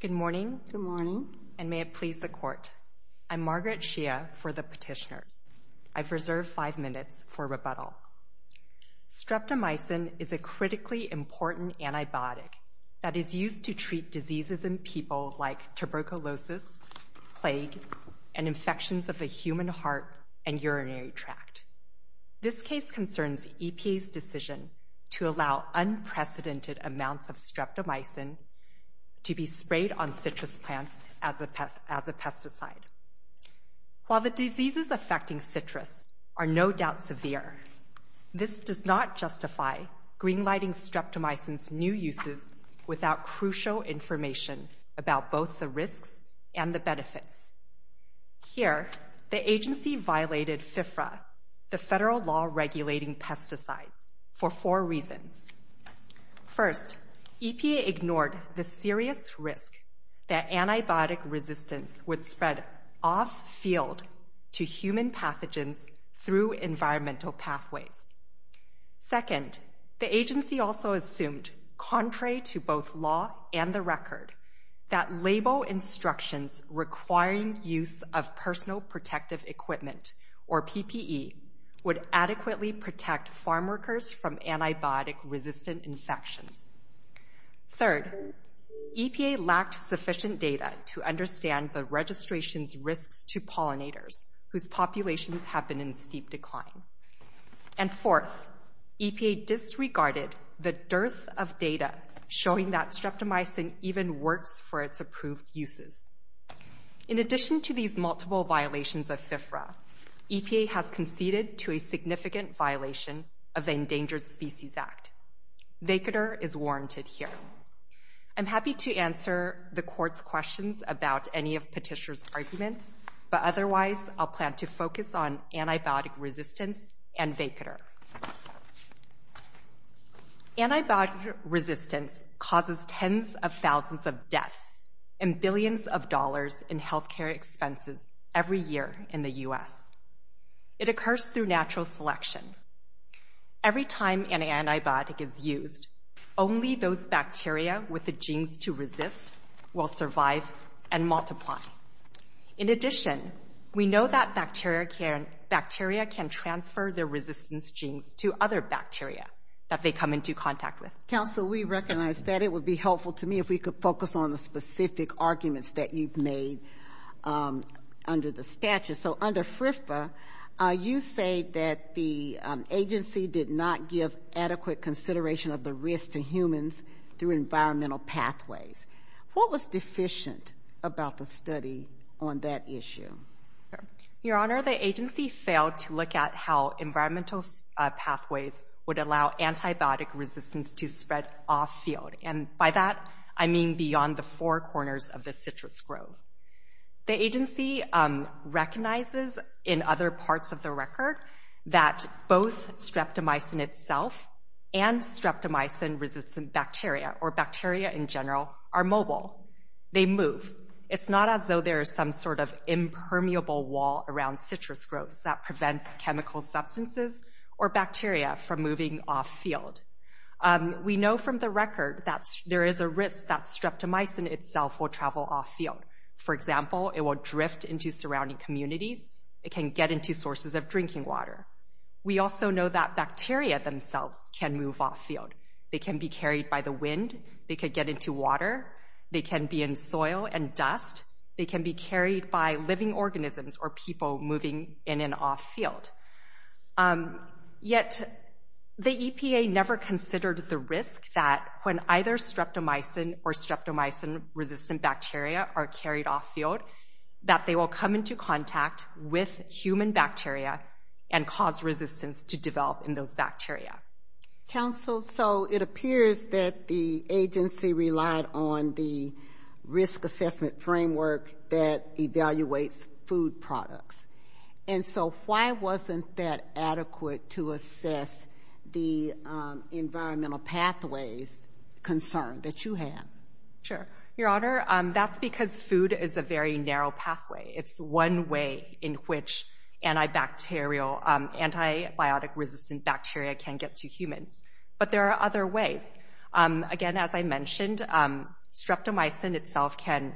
Good morning, and may it please the Court. I'm Margaret Shia for the Petitioners. I've reserved five minutes for rebuttal. Streptomycin is a critically important antibiotic that is used to treat diseases in people like tuberculosis, plague, and infections of the human heart and urinary tract. This case concerns EPA's decision to allow unprecedented amounts of streptomycin to be sprayed on citrus plants as a pesticide. While the diseases affecting citrus are no doubt severe, this does not justify greenlighting streptomycin's new crucial information about both the risks and the benefits. Here, the agency violated FFRA, the federal law regulating pesticides, for four reasons. First, EPA ignored the serious risk that antibiotic resistance would spread off-field to human pathogens through environmental pathways. Second, the agency also assumed, contrary to both law and the record, that label instructions requiring use of Personal Protective Equipment, or PPE, would adequately protect farmworkers from antibiotic-resistant infections. Third, EPA lacked sufficient data to understand the registration's risks to pollinators, whose populations have been in And fourth, EPA disregarded the dearth of data showing that streptomycin even works for its approved uses. In addition to these multiple violations of FFRA, EPA has conceded to a significant violation of the Endangered Species Act. Vacater is warranted here. I'm happy to answer the Court's questions about any of Petitioner's arguments, but otherwise I'll plan to focus on antibiotic resistance and Vacater. Antibiotic resistance causes tens of thousands of deaths and billions of dollars in health care expenses every year in the U.S. It occurs through natural selection. Every time an antibiotic is used, only those bacteria with the genes to resist will survive and multiply. In addition, we know that bacteria can transfer their resistance genes to other bacteria that they come into contact with. Counsel, we recognize that. It would be helpful to me if we could focus on the specific arguments that you've made under the statute. So under FFRA, you say that the agency did not give adequate consideration of the risk to humans through environmental pathways. What was deficient about the study on that issue? Your Honor, the agency failed to look at how environmental pathways would allow antibiotic resistance to spread off-field. And by that, I mean beyond the four corners of the citrus grove. The agency recognizes in other parts of the record that both streptomycin itself and streptomycin-resistant bacteria, or bacteria in general, are mobile. They move. It's not as though there is some sort of impermeable wall around citrus groves that prevents chemical substances or bacteria from moving off-field. We know from the record that there is a risk that streptomycin itself will travel off-field. For example, it will drift into surrounding communities. It can get into sources of drinking water. We also know that bacteria themselves can move off-field. They can be carried by the wind. They can get into water. They can be in soil and dust. They can be carried by living organisms or people moving in and off-field. Yet, the EPA never considered the risk that when either streptomycin or streptomycin-resistant bacteria are carried off-field, that they will come into contact with human bacteria and cause resistance to develop in those bacteria. Counsel, so it appears that the agency relied on the risk assessment framework that evaluates food products. And so, why wasn't that adequate to assess the environmental pathways concern that you have? Sure. Your Honor, that's because food is a very narrow pathway. It's one way in which antibacterial, antibiotic-resistant bacteria can get to humans. But there are other ways. Again, as I mentioned, streptomycin itself can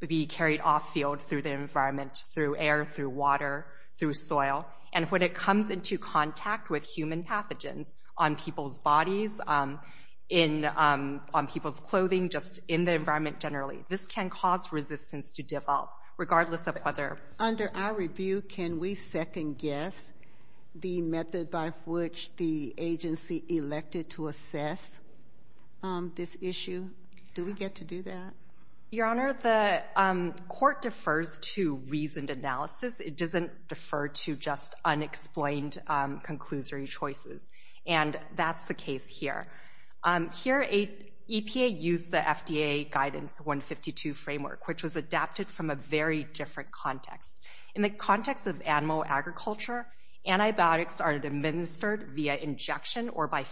be carried off-field through the environment, through air, through water, through soil. And when it comes into contact with human pathogens on people's bodies, on people's clothing, just in the environment generally, this can cause resistance to develop, regardless of whether— Under our review, can we second-guess the method by which the agency elected to assess this issue? Do we get to do that? Your Honor, the court defers to reasoned analysis. It doesn't defer to just unexplained, conclusory choices. And that's the case here. Here, EPA used the FDA Guidance 152 Framework, which was adapted from a very different context. In the context of animal agriculture, antibiotics are administered via injection or by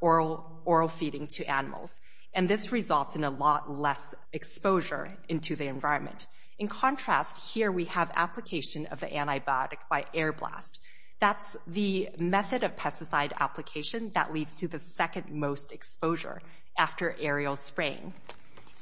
oral feeding to animals. And this results in a lot less exposure into the environment. In contrast, here we have application of the antibiotic by air blast. That's the method of pesticide application that leads to the second-most exposure after aerial spraying.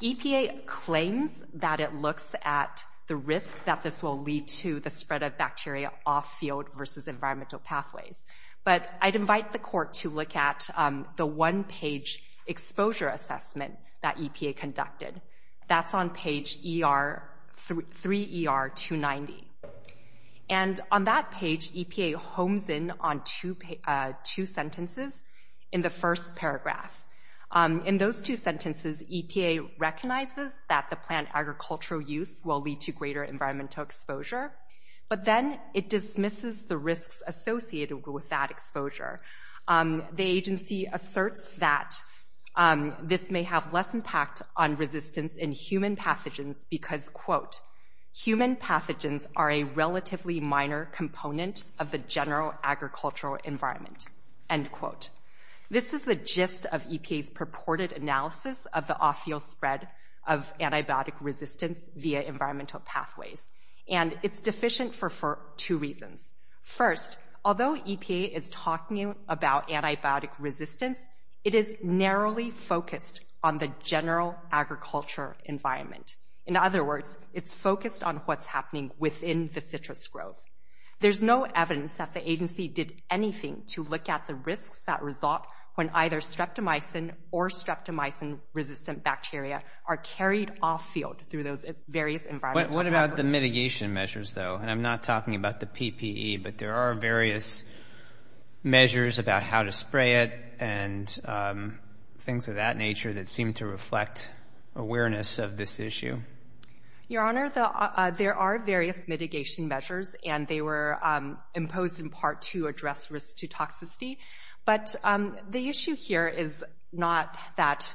EPA claims that it looks at the risk that this will lead to the spread of bacteria off-field versus environmental pathways. But I'd invite the court to look at the one-page exposure assessment that EPA conducted. That's on page 3ER290. And on that page, EPA homes in on two sentences in the first paragraph. In those two sentences, EPA recognizes that the plant agricultural use will lead to greater environmental exposure, but then it dismisses the risks associated with that exposure. The agency asserts that this may have less impact on resistance in human pathogens because, quote, human pathogens are a relatively minor component of the general agricultural environment, end quote. This is the gist of EPA's purported analysis of the off-field spread of antibiotic resistance via environmental pathways. And it's deficient for two reasons. First, although EPA is talking about antibiotic resistance, it is narrowly focused on the general agriculture environment. In other words, it's focused on what's happening within the citrus grove. There's no evidence that the agency did anything to look at the risks that result when either through those various environmental... What about the mitigation measures, though? And I'm not talking about the PPE, but there are various measures about how to spray it and things of that nature that seem to reflect awareness of this issue. Your Honor, there are various mitigation measures, and they were imposed in part to address risks to toxicity. But the issue here is not that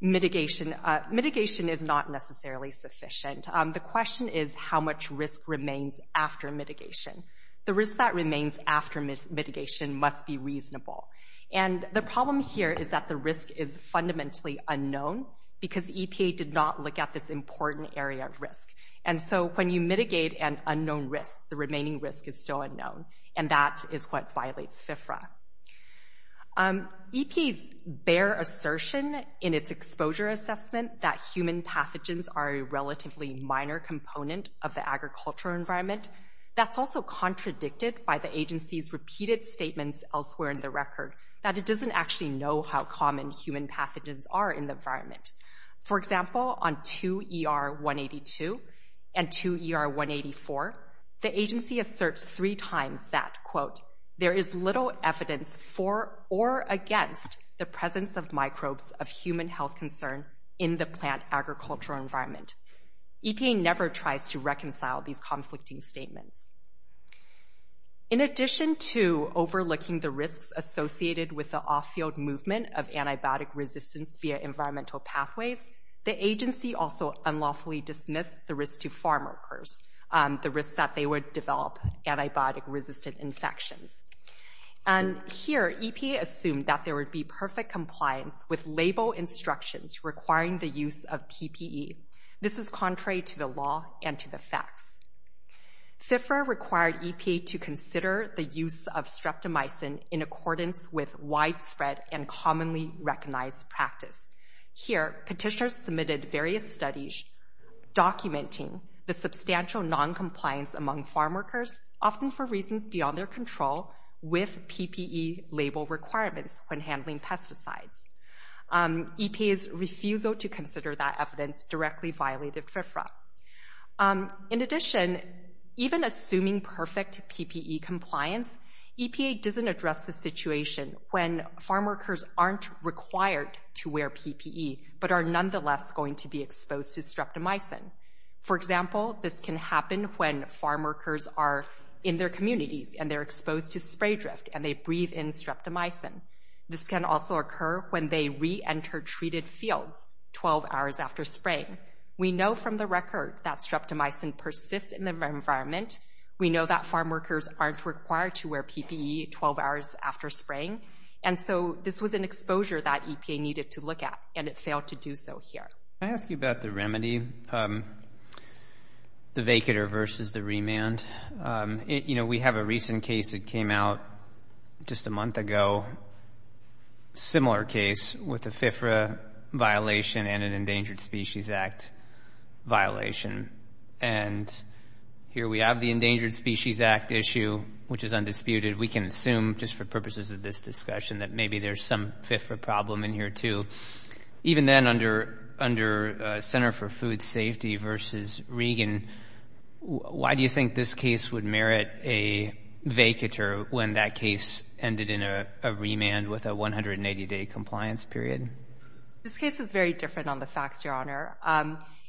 mitigation... Mitigation is not necessarily sufficient. The question is how much risk remains after mitigation. The risk that remains after mitigation must be reasonable. And the problem here is that the risk is fundamentally unknown because EPA did not look at this important area of risk. And so when you mitigate an unknown risk, the remaining risk is still unknown, and that is what violates FFRA. EPA's bare assertion in its exposure assessment that human pathogens are a relatively minor component of the agricultural environment, that's also contradicted by the agency's repeated statements elsewhere in the record that it doesn't actually know how common human pathogens are in the environment. For example, on 2ER-182 and 2ER-184, the agency asserts three times that, quote, there is little evidence for or against the presence of microbes of human health concern in the plant agricultural environment. EPA never tries to reconcile these conflicting statements. In addition to overlooking the risks associated with the off-field movement of antibiotic resistance via environmental pathways, the agency also unlawfully dismissed the risk to farmworkers, the risk that they would develop antibiotic-resistant infections. And here, EPA assumed that there would be perfect compliance with label instructions requiring the use of PPE. This is contrary to the law and to the facts. FFRA required EPA to consider the use of streptomycin in accordance with widespread and commonly the substantial noncompliance among farmworkers, often for reasons beyond their control, with PPE label requirements when handling pesticides. EPA's refusal to consider that evidence directly violated FFRA. In addition, even assuming perfect PPE compliance, EPA doesn't address the situation when farmworkers aren't required to wear PPE but are nonetheless going to be exposed. For example, this can happen when farmworkers are in their communities and they're exposed to spray drift and they breathe in streptomycin. This can also occur when they re-enter treated fields 12 hours after spraying. We know from the record that streptomycin persists in the environment. We know that farmworkers aren't required to wear PPE 12 hours after spraying. And so this was an exposure that EPA needed to look at, and it failed to do so here. Can I ask you about the remedy, the vacator versus the remand? You know, we have a recent case that came out just a month ago, a similar case with a FFRA violation and an Endangered Species Act violation. And here we have the Endangered Species Act issue, which is undisputed. We can assume, just for purposes of this discussion, that maybe there's some FFRA problem in here too. Even then, under Center for Food Safety versus Regan, why do you think this case would merit a vacator when that case ended in a remand with a 180-day compliance period? This case is very different on the facts, Your Honor.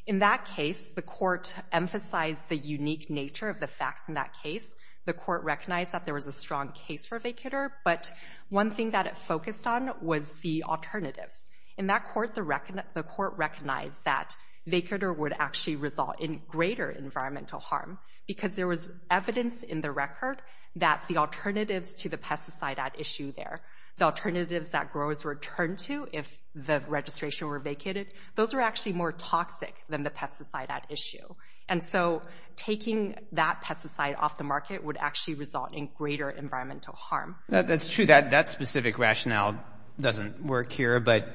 In that case, the court emphasized the unique nature of the facts in that case. The court recognized that there was a strong case for a vacator, but one thing that it focused on was the alternatives. In that court, the court recognized that vacator would actually result in greater environmental harm because there was evidence in the record that the alternatives to the pesticide at issue there, the alternatives that growers return to if the registration were vacated, those are actually more toxic than the pesticide at issue. And so taking that pesticide off the market would actually result in greater environmental harm. That's true. That specific rationale doesn't work here, but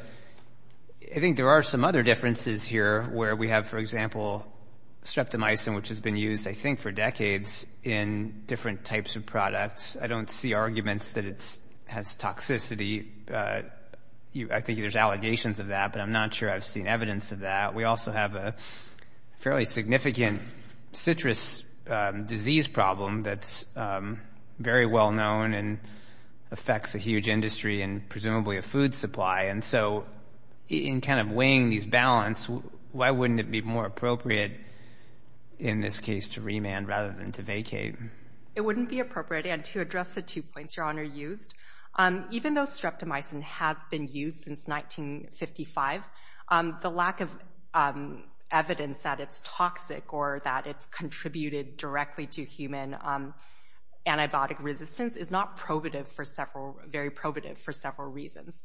I think there are some other differences here where we have, for example, streptomycin, which has been used, I think, for decades in different types of products. I don't see arguments that it has toxicity. I think there's allegations of that, but I'm not sure I've seen evidence of that. We also have a fairly significant citrus disease problem that's very well known and affects a huge industry and presumably a food supply. And so in weighing these balance, why wouldn't it be more appropriate in this case to remand rather than to vacate? It wouldn't be appropriate. And to address the two points Your Honor used, even though we have evidence that it's toxic or that it's contributed directly to human antibiotic resistance, is not very probative for several reasons.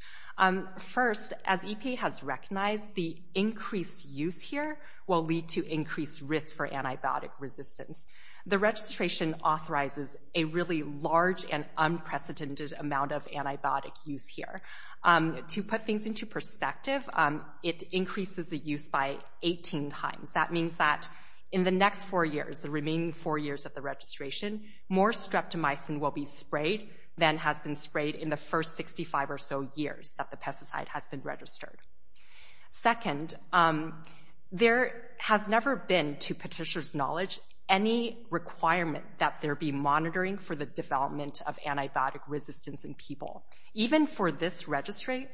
First, as EPA has recognized, the increased use here will lead to increased risk for antibiotic resistance. The registration authorizes a really large and unprecedented amount of antibiotic use here. To put things into perspective, it increases the use by 18 times. That means that in the next four years, the remaining four years of the registration, more streptomycin will be sprayed than has been sprayed in the first 65 or so years that the pesticide has been registered. Second, there has never been, to Petitioner's knowledge, any requirement that there be monitoring for the development of antibiotic resistance in people. Even for this registration,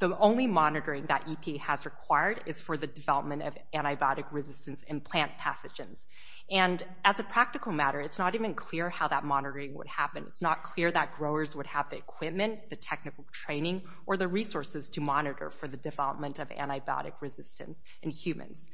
the only monitoring that EPA has required is for the development of antibiotic resistance in plant pathogens. And as a practical matter, it's not even clear how that monitoring would happen. It's not clear that growers would have the equipment, the technical training, or the resources to monitor for the development of antibiotic resistance in humans.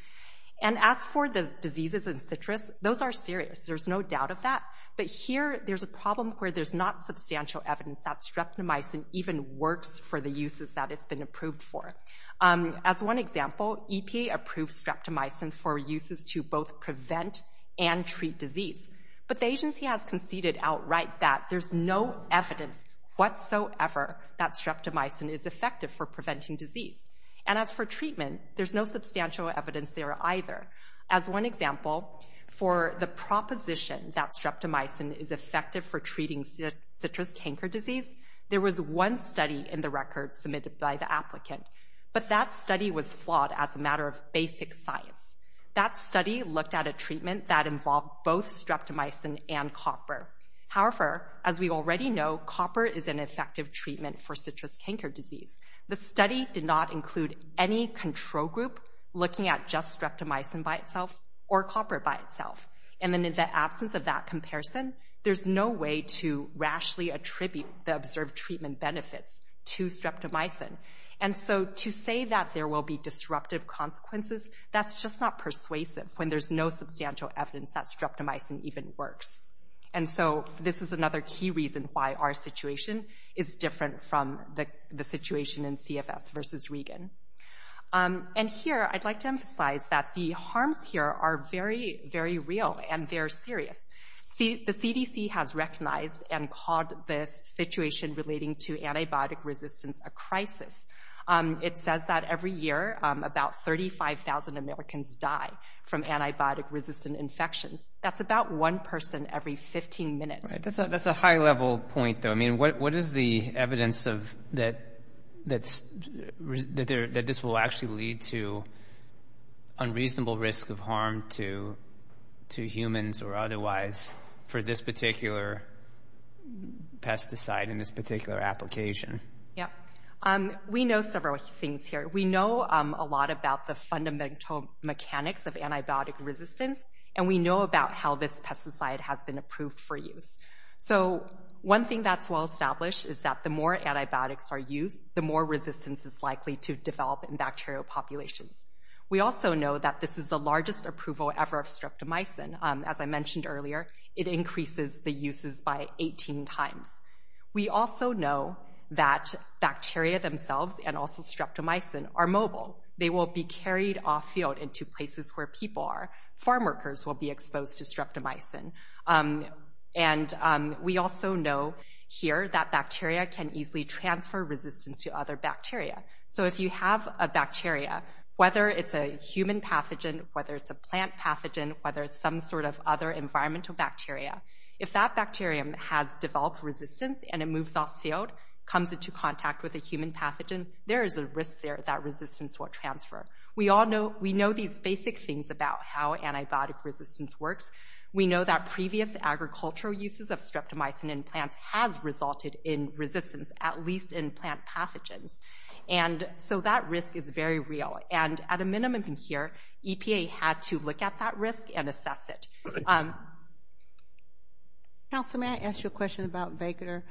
As for the diseases in citrus, those are serious. There's no doubt of that. But here, there's a problem where there's not substantial evidence that streptomycin even works for the uses that it's been approved for. As one example, EPA approved streptomycin for uses to both prevent and treat disease. But the agency has conceded outright that there's no evidence whatsoever that streptomycin is effective for preventing disease. And as for treatment, there's no substantial evidence there either. As one example, for the proposition that streptomycin is effective for treating citrus canker disease, there was one study in the record submitted by the applicant. But that study was flawed as a matter of basic science. That study looked at a treatment that involved both streptomycin and copper. However, as we already know, copper is an effective treatment for citrus canker disease. The study did not include any control group looking at just streptomycin by itself or copper by itself. And then in the absence of that comparison, there's no way to rashly attribute the observed treatment benefits to streptomycin. And so to say that there will be disruptive consequences, that's just not persuasive when there's no substantial evidence that streptomycin even works. And so this is another key reason why our situation is different from the situation in CFS versus Regan. And here, I'd like to emphasize that the harms here are very, very real and very serious. The CDC has recognized and called this situation relating to antibiotic resistance a crisis. It says that every year, about 35,000 Americans die from antibiotic-resistant infections. That's about one person every 15 minutes. Right. That's a high-level point, though. I mean, what is the evidence that this will actually lead to unreasonable risk of harm to humans or otherwise for this particular pesticide in this particular application? Yeah. We know several things here. We know a lot about the fundamental mechanics of antibiotic resistance, and we know about how this pesticide has been approved for use. So one thing that's well established is that the more antibiotics are used, the more resistance is likely to develop in bacterial populations. We also know that this is the largest approval ever of streptomycin. As I mentioned earlier, it increases the uses by 18 times. We also know that bacteria themselves and also streptomycin are mobile. They will be carried off-field and to places where people are. Farm workers will be exposed to streptomycin. And we also know here that bacteria can easily transfer resistance to other bacteria. So if you have a bacteria, whether it's a human pathogen, whether it's a plant pathogen, whether it's some sort of other environmental bacteria, if that bacterium has developed resistance and it moves off-field, comes into contact with a human pathogen, there is a risk there that resistance will transfer. We all know, we know these basic things about how antibiotic resistance works. We know that previous agricultural uses of streptomycin in plants has resulted in resistance, at least in plant pathogens. And so that risk is very real. And at a minimum here, EPA had to look at that risk and assess it. Councilman, may I ask you a question about vacator?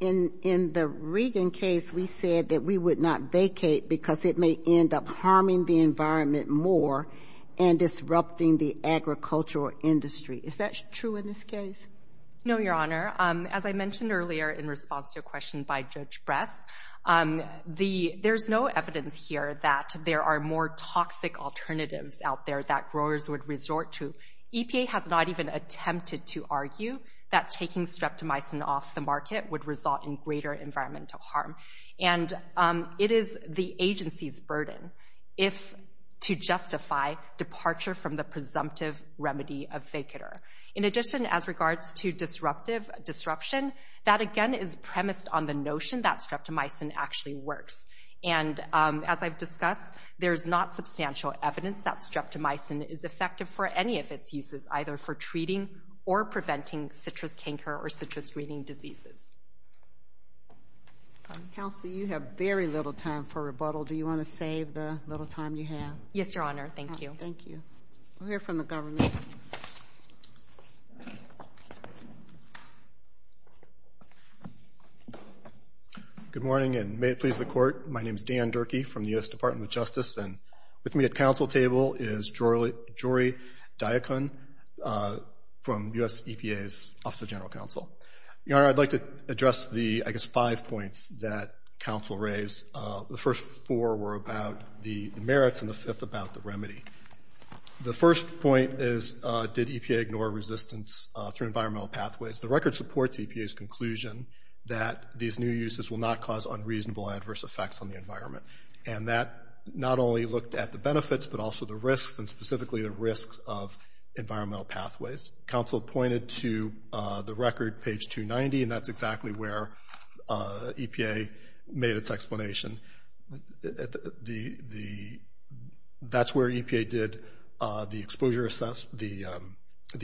In the Regan case, we said that we would not vacate because it may end up harming the environment more and disrupting the agricultural industry. Is that true in this case? No, Your Honor. As I mentioned earlier in response to a question by Judge Bress, the there's no evidence here that there are more toxic alternatives out there that growers would resort to. EPA has not even attempted to argue that taking streptomycin off the And it is the agency's burden if, to justify, departure from the presumptive remedy of vacator. In addition, as regards to disruptive disruption, that again is premised on the notion that streptomycin actually works. And as I've discussed, there's not substantial evidence that streptomycin is effective for any of its uses, either for treating or preventing citrus canker or citrus reading diseases. Counsel, you have very little time for rebuttal. Do you want to save the little time you have? Yes, Your Honor. Thank you. Thank you. We'll hear from the government. Good morning, and may it please the Court. My name is Dan Durkee from the U.S. Department of Justice, and with me at council table is Jory Diacon from U.S. EPA's Office of General Your Honor, I'd like to address the, I guess, five points that counsel raised. The first four were about the merits, and the fifth about the remedy. The first point is, did EPA ignore resistance through environmental pathways? The record supports EPA's conclusion that these new uses will not cause unreasonable adverse effects on the environment. And that not only looked at the benefits, but also the risks, and specifically the risks of environmental pathways. Counsel pointed to the record, page 290, and that's exactly where EPA made its explanation. That's where EPA did the exposure, the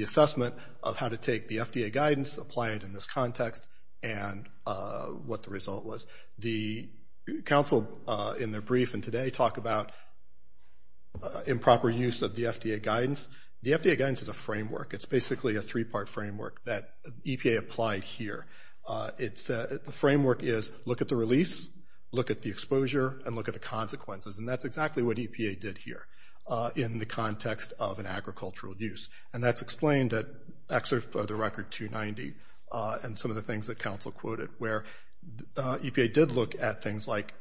assessment of how to take the FDA guidance, apply it in this context, and what the result was. The counsel, in their framework, it's basically a three-part framework that EPA applied here. The framework is, look at the release, look at the exposure, and look at the consequences. And that's exactly what EPA did here in the context of an agricultural use. And that's explained at excerpt of the record 290, and some of the things that counsel quoted, where EPA did look at things like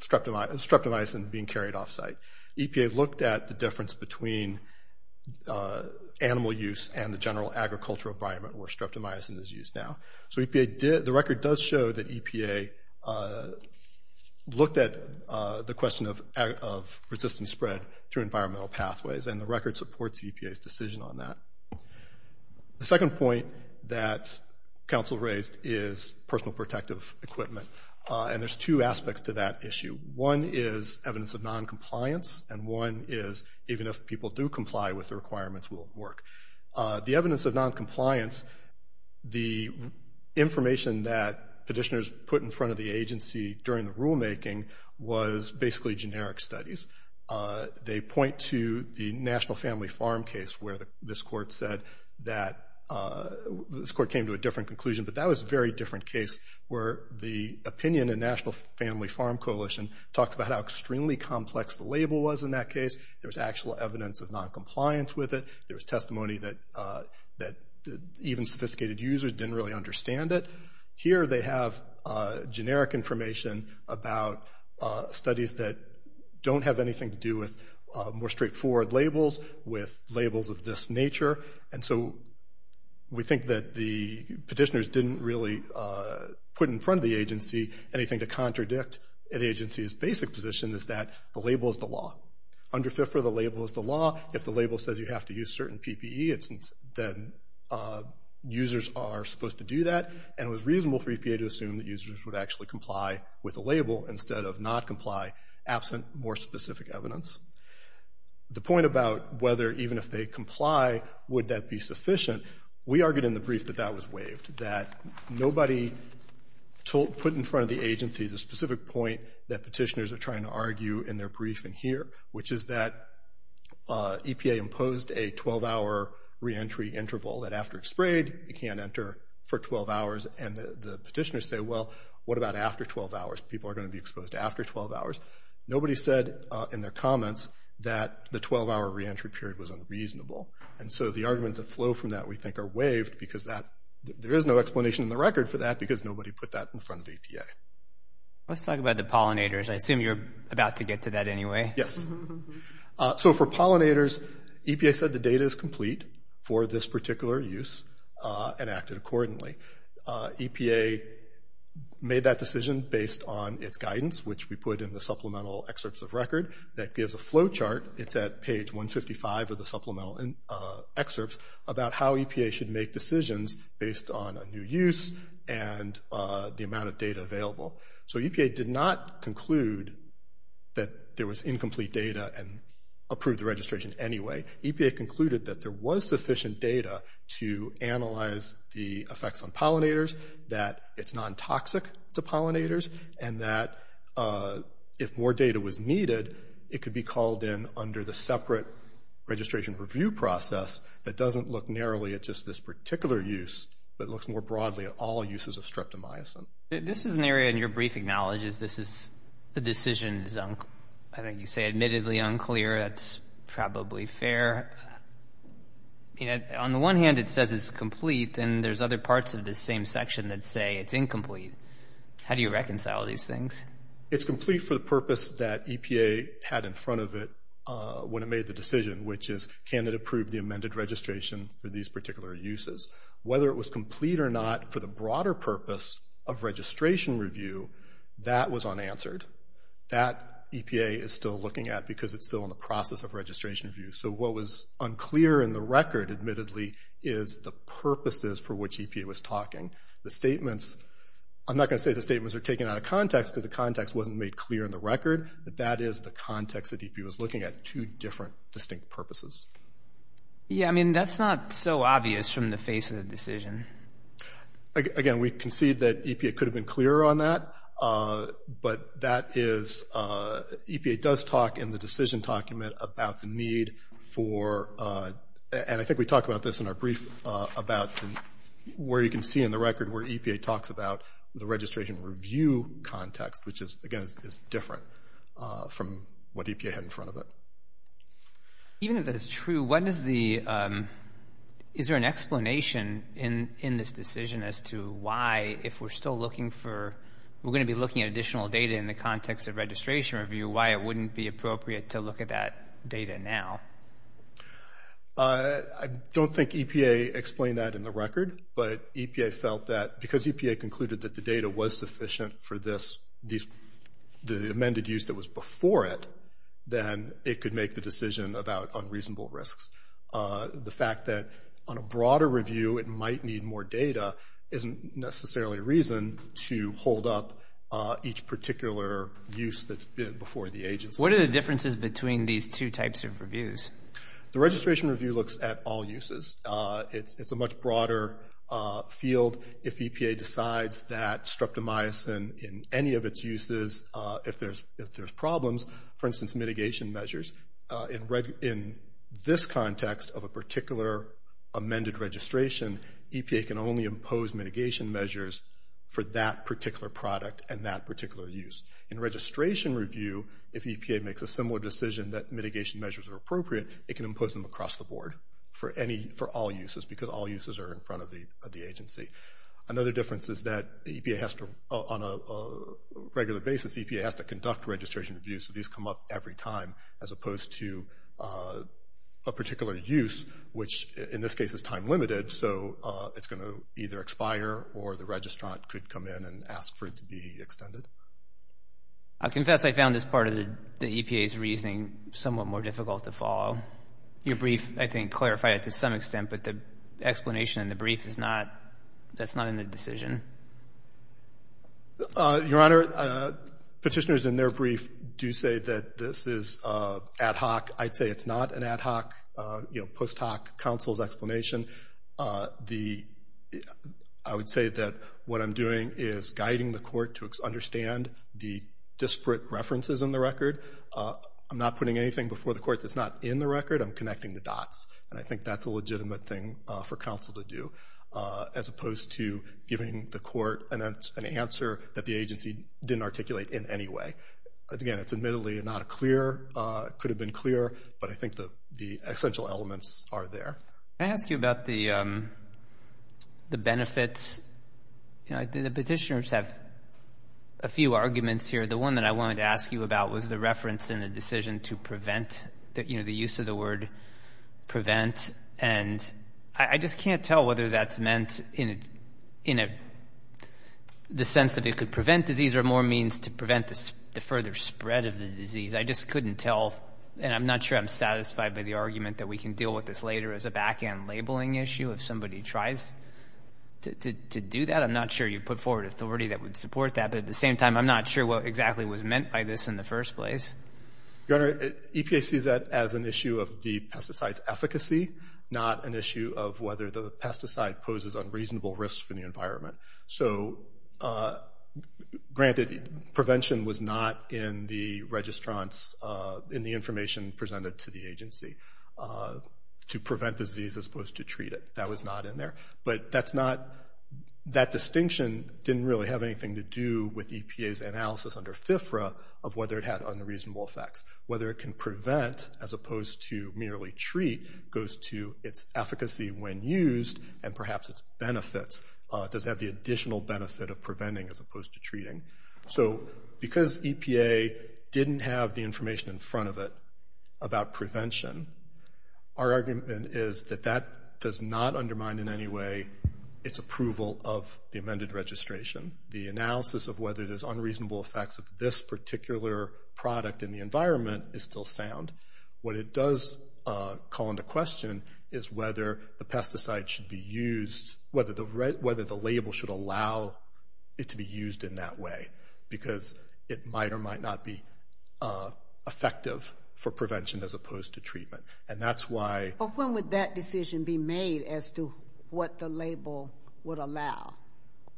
streptomycin being carried off-site. EPA looked at the difference between animal use and the general agricultural environment where streptomycin is used now. So the record does show that EPA looked at the question of resistance spread through environmental pathways, and the record supports EPA's decision on that. The second point that counsel raised is personal protective equipment, and there's two aspects to that issue. One is evidence of noncompliance, and one is even if people do comply with the requirements, will it work? The evidence of noncompliance, the information that petitioners put in front of the agency during the rulemaking was basically generic studies. They point to the National Family Farm case where this court came to a different conclusion, but that was a very different case where the opinion in National Family Farm Coalition talked about how extremely complex the label was in that case. There was actual evidence of noncompliance with it. There was testimony that even sophisticated users didn't really understand it. Here they have generic information about studies that don't have anything to do with more straightforward labels, with labels of this nature. And so we think that the petitioners didn't really put in front of the agency anything to contradict the agency's basic position is that the label is the law. Under FIFRA, the label is the law. If the label says you have to use certain PPE, then users are supposed to do that, and it was reasonable for EPA to assume that users would actually comply with the label instead of not comply, absent more specific evidence. The point about whether even if they comply, would that be sufficient, we argued in the brief that that was waived, that nobody put in front of the agency the specific point that petitioners are trying to argue in their brief in here, which is that EPA imposed a 12-hour reentry interval, that after it's people are going to be exposed after 12 hours. Nobody said in their comments that the 12-hour reentry period was unreasonable. And so the arguments that flow from that we think are waived because there is no explanation in the record for that because nobody put that in front of EPA. Let's talk about the pollinators. I assume you're about to get to that anyway. Yes. So for pollinators, EPA said the data is complete for this particular use and acted accordingly. EPA made that decision based on its guidance, which we put in the supplemental excerpts of record. That gives a flow chart. It's at page 155 of the supplemental excerpts about how EPA should make decisions based on a new use and the amount of data available. So EPA did not conclude that there was incomplete data and approved the registration anyway. EPA concluded that there was sufficient data to analyze the effects on pollinators, that it's non-toxic to pollinators, and that if more data was needed, it could be called in under the separate registration review process that doesn't look narrowly at just this particular use, but looks more broadly at all uses of streptomycin. This is an area in your brief acknowledges the decision is, I think you say, admittedly unclear. That's probably fair. On the one hand, it says it's complete, and there's other parts of this same section that say it's incomplete. How do you reconcile these things? It's complete for the purpose that EPA had in front of it when it made the decision, which is can it approve the amended registration for these particular uses? Whether it was complete or not for the broader purpose of registration review, that was unanswered. That EPA is still looking at because it's still in the process of registration review. So what was unclear in the record, admittedly, is the purposes for which EPA was talking. The statements, I'm not going to say the statements are taken out of context because the context wasn't made clear in the record, but that is the context that EPA was looking at, two different distinct purposes. Yeah, I mean, that's not so obvious from the face of the decision. Again, we concede that EPA could have been clearer on that, but that is, EPA does talk in the decision document about the need for, and I think we talk about this in our brief, about where you can see in the record where EPA talks about the registration review context, which, again, is different from what EPA had in front of it. Even if that is true, what is the, is there an explanation in this decision as to why, if we're still looking for, we're going to be looking at additional data in the context of registration review, why it wouldn't be appropriate to look at that data now? I don't think EPA explained that in the record, but EPA felt that because EPA concluded that the data was sufficient for this, the amended use that was before it, then it could make the decision about unreasonable risks. The fact that on a broader review it might need more data isn't necessarily a reason to hold up each particular use that's been before the agency. What are the differences between these two types of reviews? The registration review looks at all uses. It's a much broader field. If EPA decides that streptomycin in any of its uses, if there's problems, for instance, mitigation measures, in this context of a particular amended registration, EPA can only impose mitigation measures for that particular product and that particular use. In registration review, if EPA makes a similar decision that mitigation measures are appropriate, it can impose them across the board for all uses because all uses are in front of the agency. Another difference is that on a regular basis, EPA has to conduct registration reviews, so these come up every time as opposed to a particular use, which in this case is time limited, so it's going to either expire or the registrant could come in and ask for it to be extended. I confess I found this part of the EPA's reasoning somewhat more difficult to follow. Your brief, I think, clarified it to some extent, but the explanation in the brief is not, that's not in the decision. Your Honor, petitioners in their brief do say that this is ad hoc. I'd say it's not an ad hoc, you know, post hoc counsel's explanation. I would say that what I'm doing is guiding the court to understand the disparate references in the record. I'm not putting anything before the court that's not in the record. I'm connecting the dots, and I think that's a legitimate thing for counsel to do, as opposed to giving the court an answer that the agency didn't articulate in any way. Again, it's admittedly not clear, could have been clearer, but I think the essential elements are there. Can I ask you about the benefits? The petitioners have a few arguments here. The one that I wanted to ask you about was the reference in the decision to prevent, you know, the use of the word prevent, and I just can't tell whether that's meant in the sense that it could prevent disease or more means to prevent the further spread of the disease. I just couldn't tell, and I'm not sure I'm satisfied by the argument that we can deal with this later as a back-end labeling issue if somebody tries to do that. I'm not sure you put forward authority that would support that, but at the same time I'm not sure what exactly was meant by this in the first place. Your Honor, EPA sees that as an issue of the pesticide's efficacy, not an issue of whether the pesticide poses unreasonable risks for the environment. So, granted, prevention was not in the registrants in the information presented to the agency to prevent disease as opposed to treat it. That was not in there, but that distinction didn't really have anything to do with EPA's analysis under FFRA of whether it had unreasonable effects. Whether it can prevent as opposed to merely treat goes to its efficacy when used and perhaps its benefits. It does have the additional benefit of preventing as opposed to treating. So, because EPA didn't have the information in front of it about prevention, our argument is that that does not undermine in any way its approval of the amended registration. The analysis of whether there's unreasonable effects of this particular product in the environment is still sound. What it does call into question is whether the pesticide should be used, whether the label should allow it to be used in that way, because it might or might not be effective for prevention as opposed to treatment. And that's why- But when would that decision be made as to what the label would allow?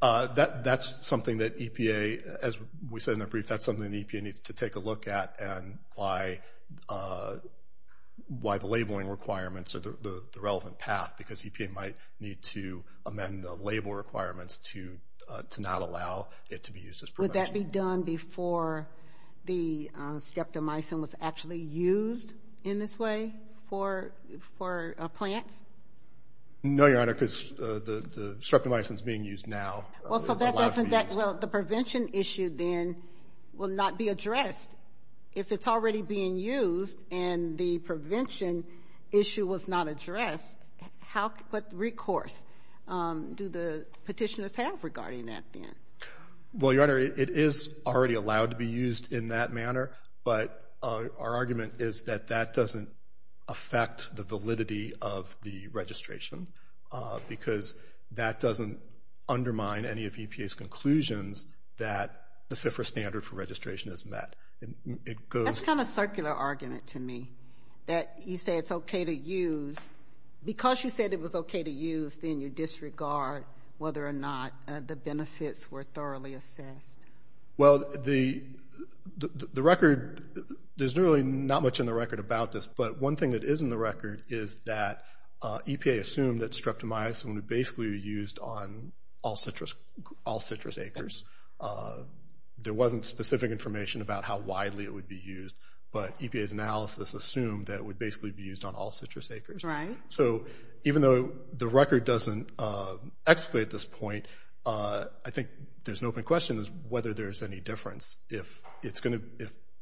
That's something that EPA, as we said in the brief, that's something that EPA needs to take a look at and why the labeling requirements are the relevant path, because EPA might need to amend the label requirements to not allow it to be used as prevention. Would that be done before the streptomycin was actually used in this way for plants? No, Your Honor, because the streptomycin is being used now. Well, so that doesn't- Well, the prevention issue then will not be addressed. If it's already being used and the prevention issue was not addressed, what recourse do the petitioners have regarding that then? Well, Your Honor, it is already allowed to be used in that manner, but our argument is that that doesn't affect the validity of the registration because that doesn't undermine any of EPA's conclusions that the FFRA standard for registration is met. That's kind of a circular argument to me, that you say it's okay to use. Because you said it was okay to use, then you disregard whether or not the benefits were thoroughly assessed. Well, the record, there's really not much in the record about this, but one thing that is in the record is that EPA assumed that streptomycin would basically be used on all citrus acres. There wasn't specific information about how widely it would be used, but EPA's analysis assumed that it would basically be used on all citrus acres. Right. So even though the record doesn't explicate this point, I think there's an open question as to whether there's any difference. If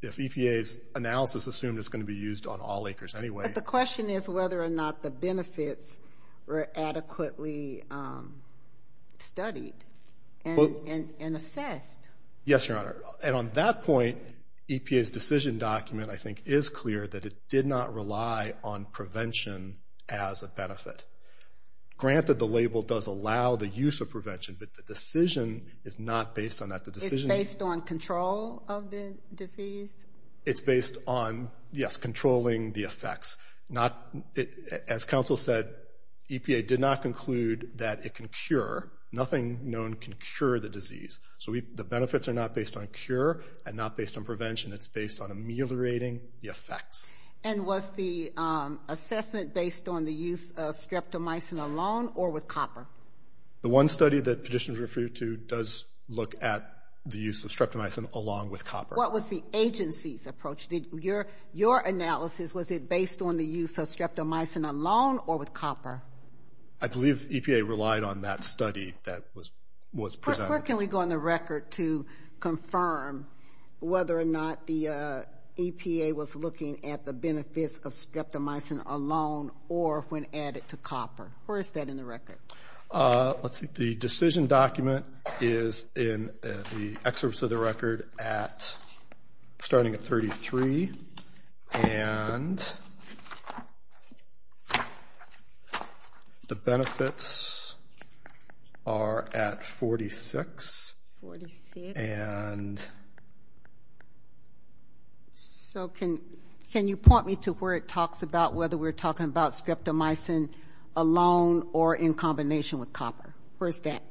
EPA's analysis assumed it's going to be used on all acres anyway. But the question is whether or not the benefits were adequately studied and assessed. Yes, Your Honor. And on that point, EPA's decision document, I think, is clear that it did not rely on prevention as a benefit. Granted, the label does allow the use of prevention, but the decision is not based on that. It's based on control of the disease? It's based on, yes, controlling the effects. As counsel said, EPA did not conclude that it can cure. Nothing known can cure the disease. So the benefits are not based on cure and not based on prevention. It's based on ameliorating the effects. And was the assessment based on the use of streptomycin alone or with copper? The one study that petitioners referred to does look at the use of streptomycin along with copper. What was the agency's approach? Your analysis, was it based on the use of streptomycin alone or with copper? I believe EPA relied on that study that was presented. Where can we go on the record to confirm whether or not the EPA was looking at the benefits of streptomycin alone or when added to copper? Where is that in the record? Let's see. The decision document is in the excerpts of the record starting at 33. And the benefits are at 46. Forty-six. And so can you point me to where it talks about whether we're talking about alone or in combination with copper? Where is that?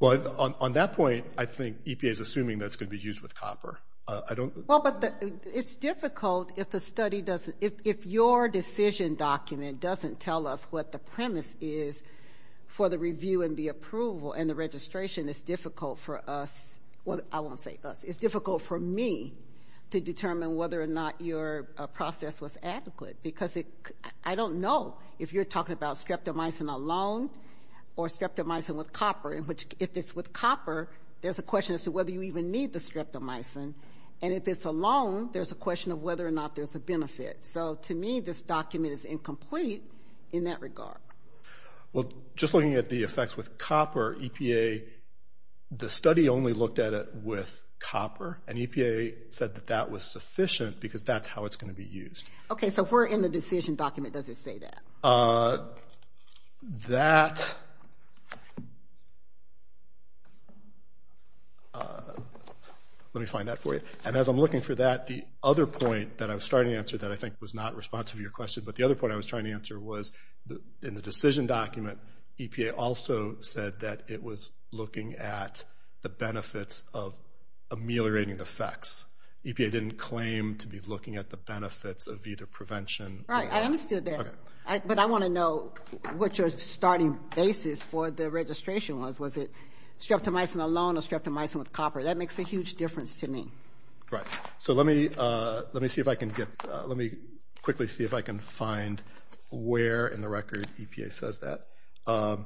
Well, on that point, I think EPA is assuming that it's going to be used with copper. Well, but it's difficult if the study doesn't – if your decision document doesn't tell us what the premise is for the review and the approval and the registration, it's difficult for us – well, I won't say us. It's difficult for me to determine whether or not your process was adequate because I don't know if you're talking about streptomycin alone or streptomycin with copper, in which if it's with copper, there's a question as to whether you even need the streptomycin. And if it's alone, there's a question of whether or not there's a benefit. So to me, this document is incomplete in that regard. Well, just looking at the effects with copper, EPA – the study only looked at it with copper, and EPA said that that was sufficient because that's how it's going to be used. Okay, so if we're in the decision document, does it say that? That – let me find that for you. And as I'm looking for that, the other point that I was trying to answer that I think was not responsive to your question, but the other point I was trying to answer was in the decision document, EPA also said that it was looking at the benefits of ameliorating the effects. EPA didn't claim to be looking at the benefits of either prevention. Right, I understood that. Okay. But I want to know what your starting basis for the registration was. Was it streptomycin alone or streptomycin with copper? That makes a huge difference to me. Right. So let me see if I can get – let me quickly see if I can find where in the record EPA says that. Okay.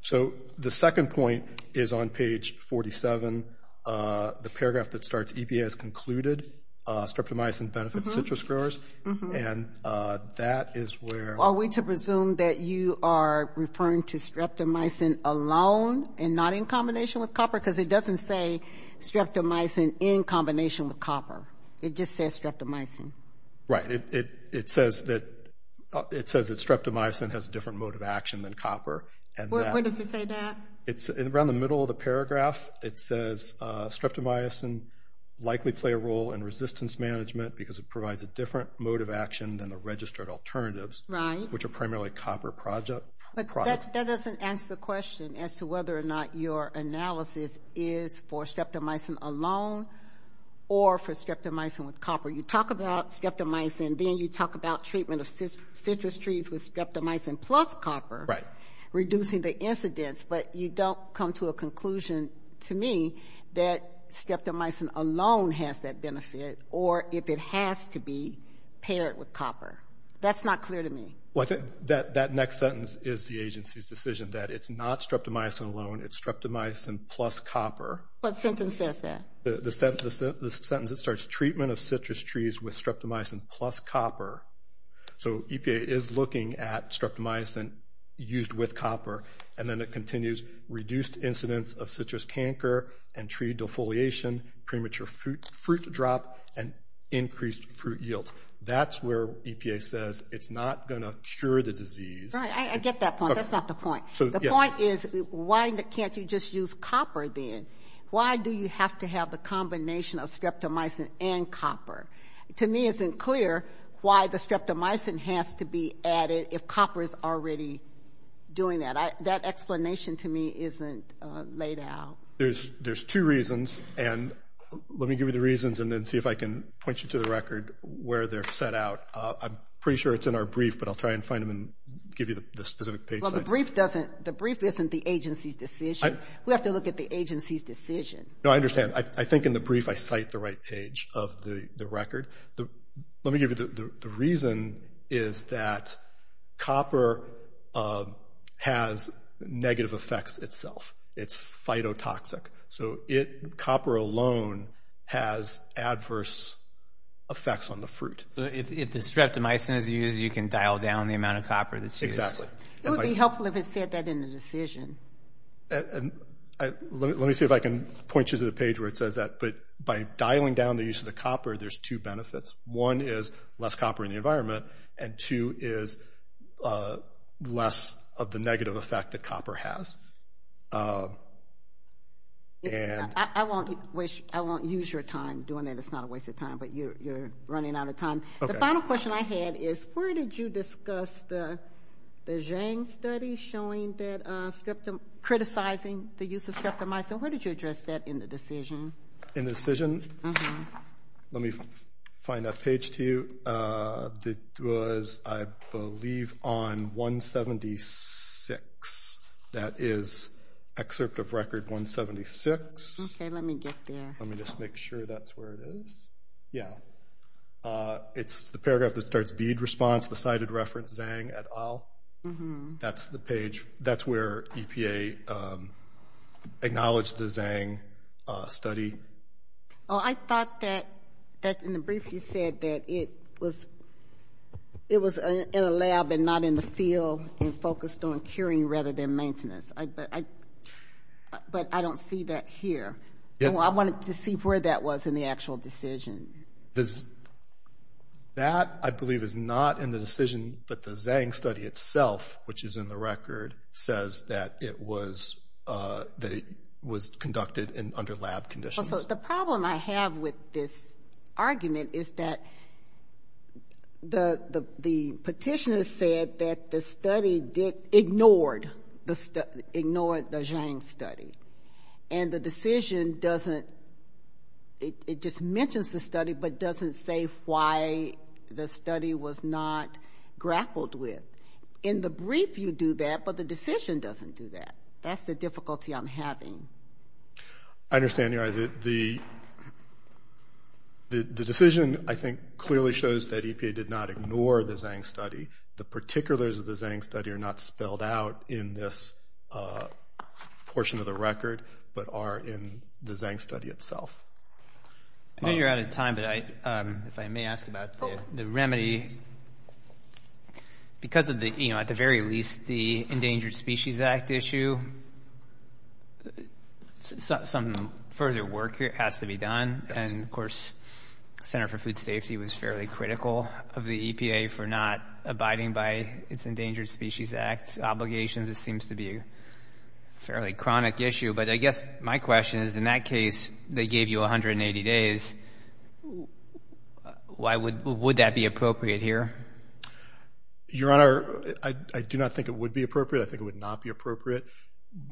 So the second point is on page 47, the paragraph that starts, EPA has concluded streptomycin benefits citrus growers, and that is where – Are we to presume that you are referring to streptomycin alone and not in combination with copper? Because it doesn't say streptomycin in combination with copper. It just says streptomycin. Right. It says that streptomycin has a different mode of action than copper. Where does it say that? Around the middle of the paragraph, it says streptomycin likely play a role in resistance management because it provides a different mode of action than the registered alternatives, which are primarily copper products. But that doesn't answer the question as to whether or not your analysis is for streptomycin alone or for streptomycin with copper. You talk about streptomycin, then you talk about treatment of citrus trees with streptomycin plus copper. Right. Reducing the incidence, but you don't come to a conclusion to me that streptomycin alone has that benefit or if it has to be paired with copper. That's not clear to me. Well, I think that next sentence is the agency's decision that it's not streptomycin alone, it's streptomycin plus copper. What sentence says that? The sentence that starts treatment of citrus trees with streptomycin plus copper. So EPA is looking at streptomycin used with copper, and then it continues reduced incidence of citrus canker and tree defoliation, premature fruit drop, and increased fruit yield. That's where EPA says it's not going to cure the disease. Right, I get that point. That's not the point. The point is why can't you just use copper then? Why do you have to have the combination of streptomycin and copper? To me, it isn't clear why the streptomycin has to be added if copper is already doing that. That explanation to me isn't laid out. There's two reasons, and let me give you the reasons and then see if I can point you to the record where they're set out. I'm pretty sure it's in our brief, but I'll try and find them and give you the specific page size. Well, the brief isn't the agency's decision. We have to look at the agency's decision. No, I understand. I think in the brief I cite the right page of the record. Let me give you the reason is that copper has negative effects itself. It's phytotoxic. So copper alone has adverse effects on the fruit. If the streptomycin is used, you can dial down the amount of copper that's used. Exactly. It would be helpful if it said that in the decision. Let me see if I can point you to the page where it says that. But by dialing down the use of the copper, there's two benefits. One is less copper in the environment, and two is less of the negative effect that copper has. I won't use your time doing that. It's not a waste of time, but you're running out of time. The final question I had is where did you discuss the Zhang study criticizing the use of streptomycin? Where did you address that in the decision? In the decision? Let me find that page to you. It was, I believe, on 176. That is excerpt of record 176. Let me get there. Let me just make sure that's where it is. Yeah. It's the paragraph that starts bead response, the cited reference Zhang et al. That's the page. That's where EPA acknowledged the Zhang study. I thought that in the brief you said that it was in a lab and not in the field and focused on curing rather than maintenance. But I don't see that here. I wanted to see where that was in the actual decision. That, I believe, is not in the decision, but the Zhang study itself, which is in the record, says that it was conducted under lab conditions. The problem I have with this argument is that the petitioner said that the study ignored the Zhang study. And the decision doesn't, it just mentions the study but doesn't say why the study was not grappled with. In the brief you do that, but the decision doesn't do that. That's the difficulty I'm having. I understand. The decision, I think, clearly shows that EPA did not ignore the Zhang study. The particulars of the Zhang study are not spelled out in this portion of the record but are in the Zhang study itself. I know you're out of time, but if I may ask about the remedy. Because of the, at the very least, the Endangered Species Act issue, some further work has to be done. And, of course, the Center for Food Safety was fairly critical of the EPA for not abiding by its Endangered Species Act obligations. It seems to be a fairly chronic issue. But I guess my question is, in that case, they gave you 180 days. Would that be appropriate here? Your Honor, I do not think it would be appropriate. I think it would not be appropriate.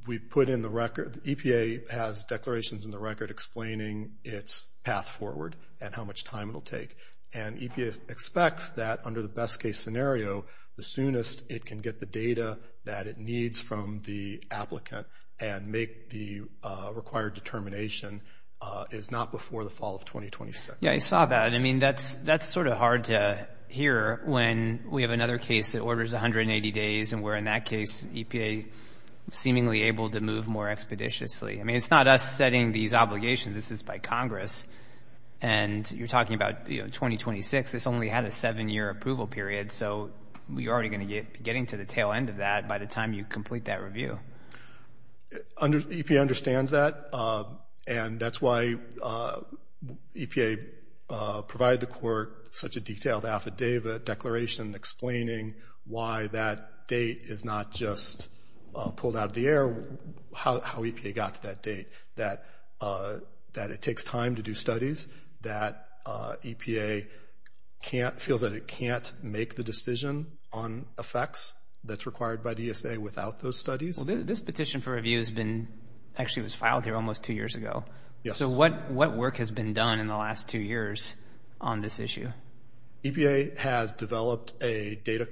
We put in the record, the EPA has declarations in the record explaining its path forward and how much time it will take. And EPA expects that, under the best-case scenario, the soonest it can get the data that it needs from the applicant and make the required determination is not before the fall of 2026. Yeah, I saw that. I mean, that's sort of hard to hear when we have another case that orders 180 days and we're, in that case, EPA seemingly able to move more expeditiously. I mean, it's not us setting these obligations. This is by Congress. And you're talking about 2026. This only had a seven-year approval period, so you're already going to be getting to the tail end of that by the time you complete that review. EPA understands that, and that's why EPA provided the Court such a detailed affidavit declaration explaining why that date is not just pulled out of the air, how EPA got to that date, that it takes time to do studies, that EPA feels that it can't make the decision on effects that's required by DSA without those studies. Well, this petition for review actually was filed here almost two years ago. Yes. So what work has been done in the last two years on this issue? EPA has developed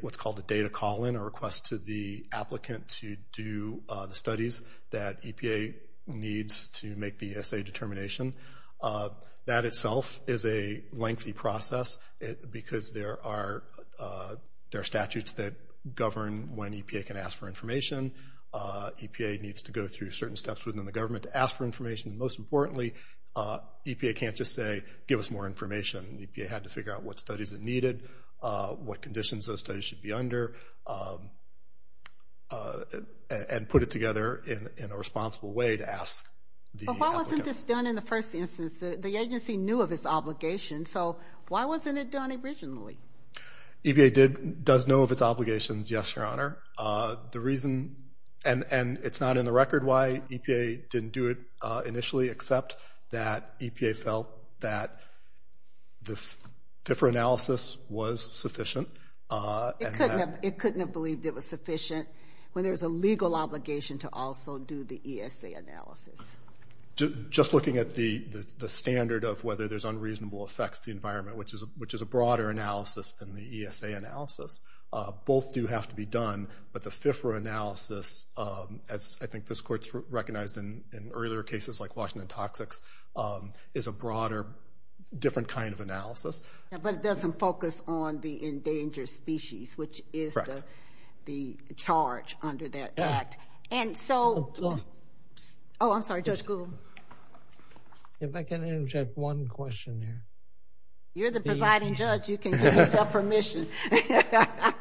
what's called a data call-in, a request to the applicant to do the studies that EPA needs to make the DSA determination. That itself is a lengthy process because there are statutes that govern when EPA can ask for information. EPA needs to go through certain steps within the government to ask for information. Most importantly, EPA can't just say, give us more information. EPA had to figure out what studies it needed, what conditions those studies should be under, and put it together in a responsible way to ask the applicants. But why wasn't this done in the first instance? The agency knew of its obligation, so why wasn't it done originally? EPA does know of its obligations, yes, Your Honor. The reason, and it's not in the record why EPA didn't do it initially, except that EPA felt that the FIFRA analysis was sufficient. It couldn't have believed it was sufficient when there's a legal obligation to also do the ESA analysis. Just looking at the standard of whether there's unreasonable effects to the environment, which is a broader analysis than the ESA analysis. Both do have to be done, but the FIFRA analysis, as I think this Court's recognized in earlier cases like Washington Toxics, is a broader, different kind of analysis. But it doesn't focus on the endangered species, which is the charge under that act. And so, oh, I'm sorry, Judge Gould. If I can interject one question here. You're the presiding judge, you can give yourself permission.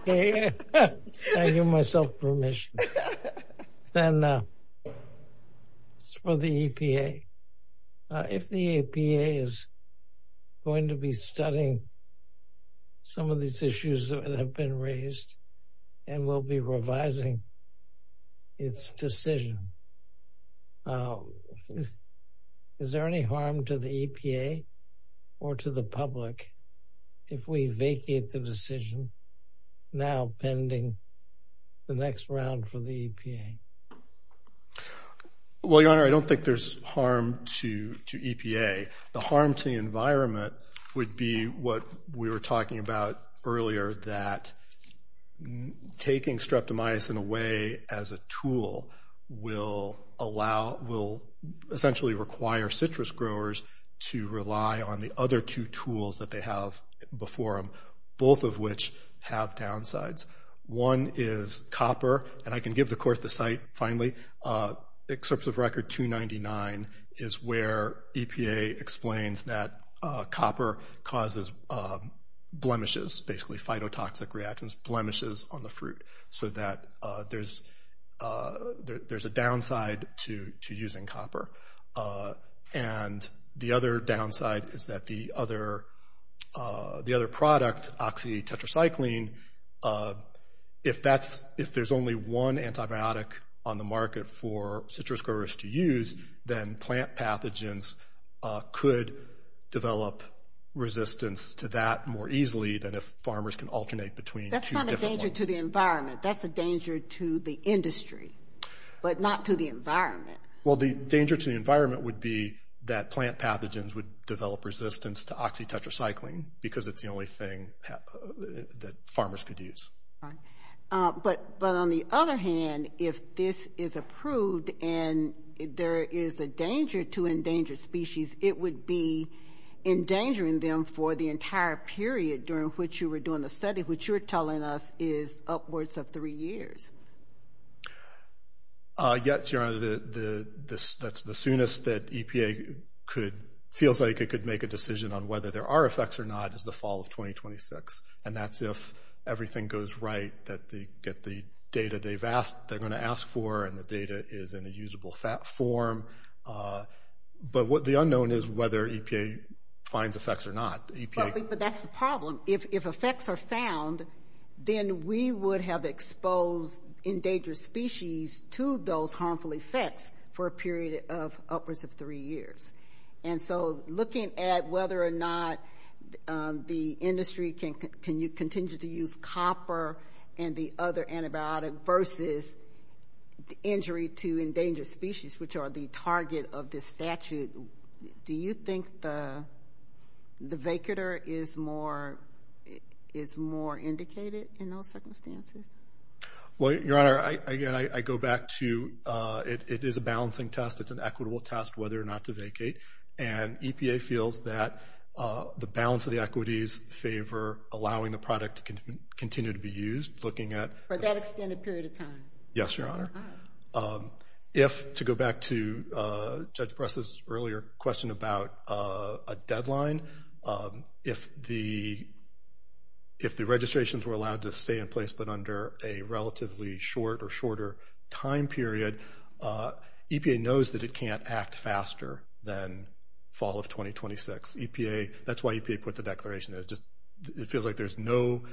Okay, I give myself permission. Then for the EPA, if the EPA is going to be studying some of these issues that have been raised and will be revising its decision, is there any harm to the EPA or to the public if we vacate the decision now pending the next round for the EPA? Well, Your Honor, I don't think there's harm to EPA. The harm to the environment would be what we were talking about earlier, that taking streptomycin away as a tool will essentially require citrus growers to rely on the other two tools that they have before them, both of which have downsides. One is copper, and I can give the Court the site finally. Excerpts of Record 299 is where EPA explains that copper causes blemishes, basically phytotoxic reactions, blemishes on the fruit, so that there's a downside to using copper. And the other downside is that the other product, oxytetracycline, if there's only one antibiotic on the market for citrus growers to use, then plant pathogens could develop resistance to that more easily than if farmers can alternate between two different ones. That's not a danger to the environment, that's a danger to the industry, but not to the environment. Well, the danger to the environment would be that plant pathogens would develop resistance to oxytetracycline because it's the only thing that farmers could use. But on the other hand, if this is approved and there is a danger to endangered species, it would be endangering them for the entire period during which you were doing the study, which you're telling us is upwards of three years. Yes, Your Honor, the soonest that EPA feels like it could make a decision on whether there are effects or not is the fall of 2026, and that's if everything goes right, that they get the data they're going to ask for and the data is in a usable form. But the unknown is whether EPA finds effects or not. But that's the problem. If effects are found, then we would have exposed endangered species to those harmful effects for a period of upwards of three years. And so looking at whether or not the industry can continue to use copper and the other antibiotic versus injury to endangered species, which are the target of this statute, do you think the vacator is more indicated in those circumstances? Well, Your Honor, again, I go back to it is a balancing test. It's an equitable test whether or not to vacate. And EPA feels that the balance of the equities favor allowing the product to continue to be used. For that extended period of time? Yes, Your Honor. If, to go back to Judge Preston's earlier question about a deadline, if the registrations were allowed to stay in place but under a relatively short or shorter time period, EPA knows that it can't act faster than fall of 2026. That's why EPA put the declaration in. It feels like there's no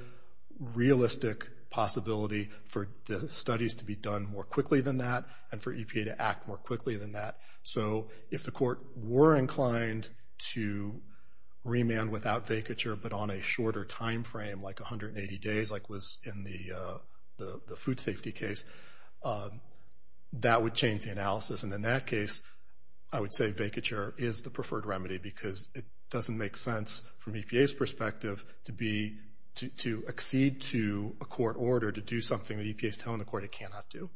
realistic possibility for the studies to be done more quickly than that and for EPA to act more quickly than that. So if the court were inclined to remand without vacature but on a shorter time frame, like 180 days like was in the food safety case, that would change the analysis. And in that case, I would say vacature is the preferred remedy because it doesn't make sense from EPA's perspective to exceed to a court order to do something the EPA is telling the court it cannot do.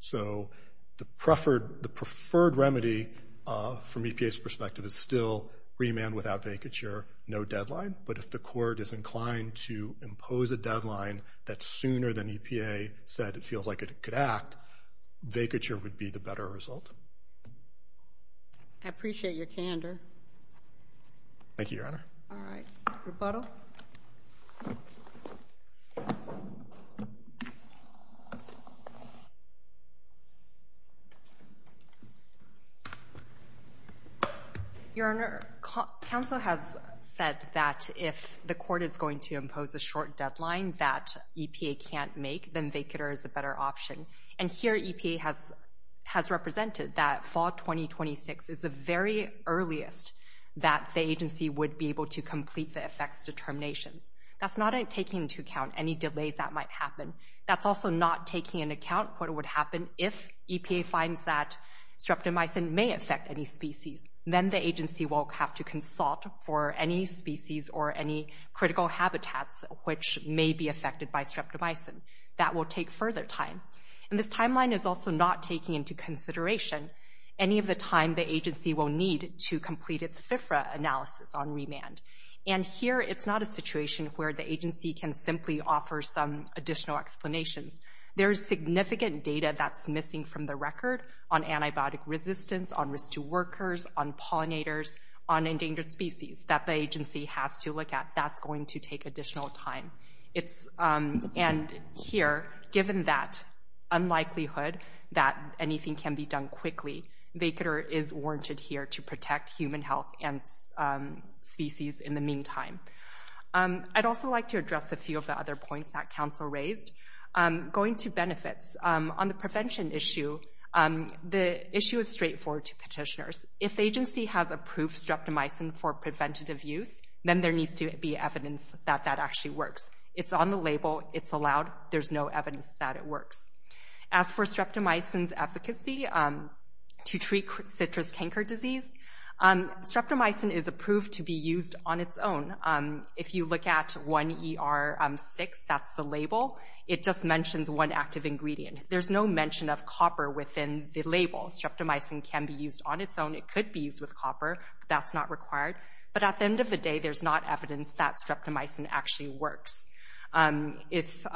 So the preferred remedy from EPA's perspective is still remand without vacature, no deadline. But if the court is inclined to impose a deadline that's sooner than EPA said it feels like it could act, vacature would be the better result. I appreciate your candor. Thank you, Your Honor. All right, rebuttal. Your Honor, counsel has said that if the court is going to impose a short deadline that EPA can't make, then vacature is a better option. And here EPA has represented that fall 2026 is the very earliest that the agency would be able to complete the effects determinations. That's not taking into account any delays that might happen. That's also not taking into account what would happen if EPA finds that streptomycin may affect any species. Then the agency will have to consult for any species or any critical habitats which may be affected by streptomycin. That will take further time. And this timeline is also not taking into consideration any of the time the agency will need to complete its FFRA analysis on remand. And here it's not a situation where the agency can simply offer some additional explanations. There is significant data that's missing from the record on antibiotic resistance, on risk to workers, on pollinators, on endangered species that the agency has to look at. That's going to take additional time. And here, given that unlikelihood that anything can be done quickly, vacature is warranted here to protect human health and species in the meantime. I'd also like to address a few of the other points that Council raised. Going to benefits. On the prevention issue, the issue is straightforward to petitioners. If the agency has approved streptomycin for preventative use, then there needs to be evidence that that actually works. It's on the label. It's allowed. There's no evidence that it works. As for streptomycin's efficacy to treat citrus canker disease, streptomycin is approved to be used on its own. If you look at 1ER6, that's the label, it just mentions one active ingredient. There's no mention of copper within the label. Streptomycin can be used on its own. It could be used with copper. That's not required. But at the end of the day, there's not evidence that streptomycin actually works. If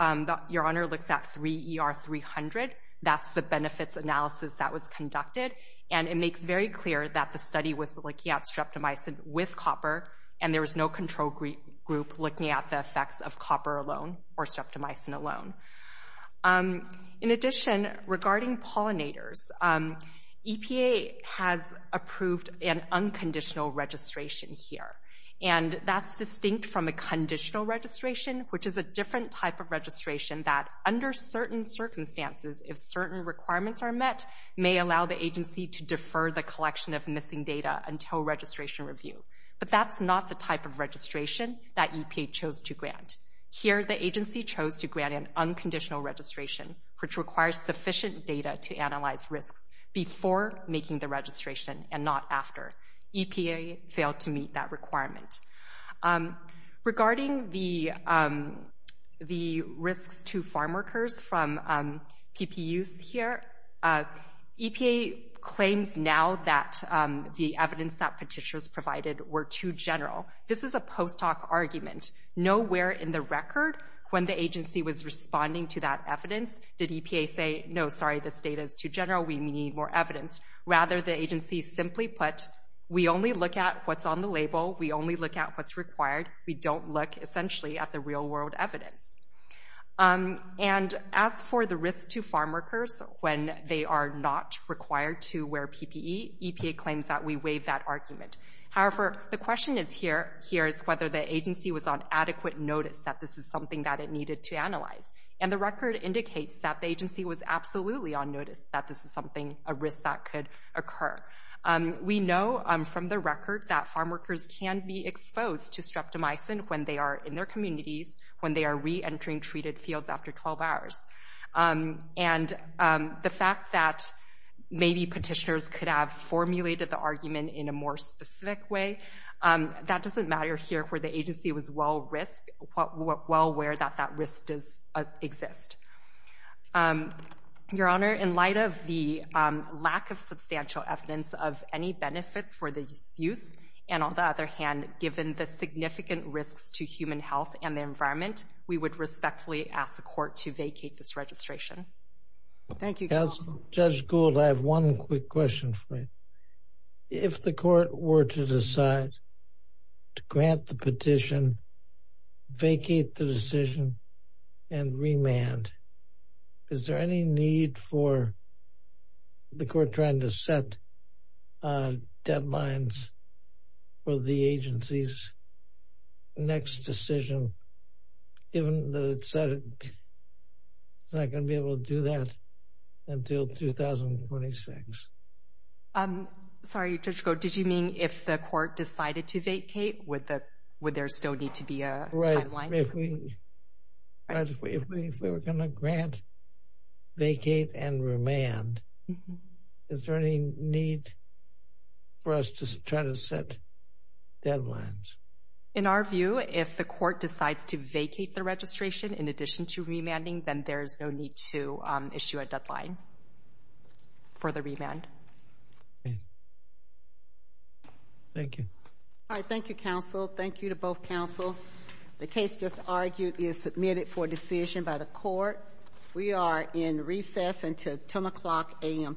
your Honor looks at 3ER300, that's the benefits analysis that was conducted, and it makes very clear that the study was looking at streptomycin with copper, and there was no control group looking at the effects of copper alone or streptomycin alone. In addition, regarding pollinators, EPA has approved an unconditional registration here, and that's distinct from a conditional registration, which is a different type of registration that under certain circumstances, if certain requirements are met, may allow the agency to defer the collection of missing data until registration review. But that's not the type of registration that EPA chose to grant. Here, the agency chose to grant an unconditional registration, which requires sufficient data to analyze risks before making the registration and not after. EPA failed to meet that requirement. Regarding the risks to farmworkers from PPUs here, EPA claims now that the evidence that petitioners provided were too general. This is a post hoc argument. Nowhere in the record when the agency was responding to that evidence did EPA say, no, sorry, this data is too general, we need more evidence. Rather, the agency simply put, we only look at what's on the label, we only look at what's required, we don't look essentially at the real world evidence. And as for the risks to farmworkers when they are not required to wear PPE, EPA claims that we waive that argument. However, the question here is whether the agency was on adequate notice that this is something that it needed to analyze. And the record indicates that the agency was absolutely on notice that this is something, a risk that could occur. We know from the record that farmworkers can be exposed to streptomycin when they are in their communities, when they are reentering treated fields after 12 hours. And the fact that maybe petitioners could have formulated the argument in a more specific way, that doesn't matter here where the agency was well aware that that risk does exist. Your Honor, in light of the lack of substantial evidence of any benefits for the youth, and on the other hand, given the significant risks to human health and the environment, we would respectfully ask the court to vacate this registration. Thank you, counsel. Judge Gould, I have one quick question for you. If the court were to decide to grant the petition, vacate the decision, and remand, is there any need for the court trying to set deadlines for the agency's next decision, given that it's not going to be able to do that until 2026? Sorry, Judge Gould, did you mean if the court decided to vacate, would there still need to be a timeline? If we were going to grant, vacate, and remand, is there any need for us to try to set deadlines? In our view, if the court decides to vacate the registration in addition to remanding, then there is no need to issue a deadline for the remand. Thank you. All right, thank you, counsel. Thank you to both counsel. The case just argued is submitted for decision by the court. We are in recess until 10 o'clock a.m. tomorrow morning.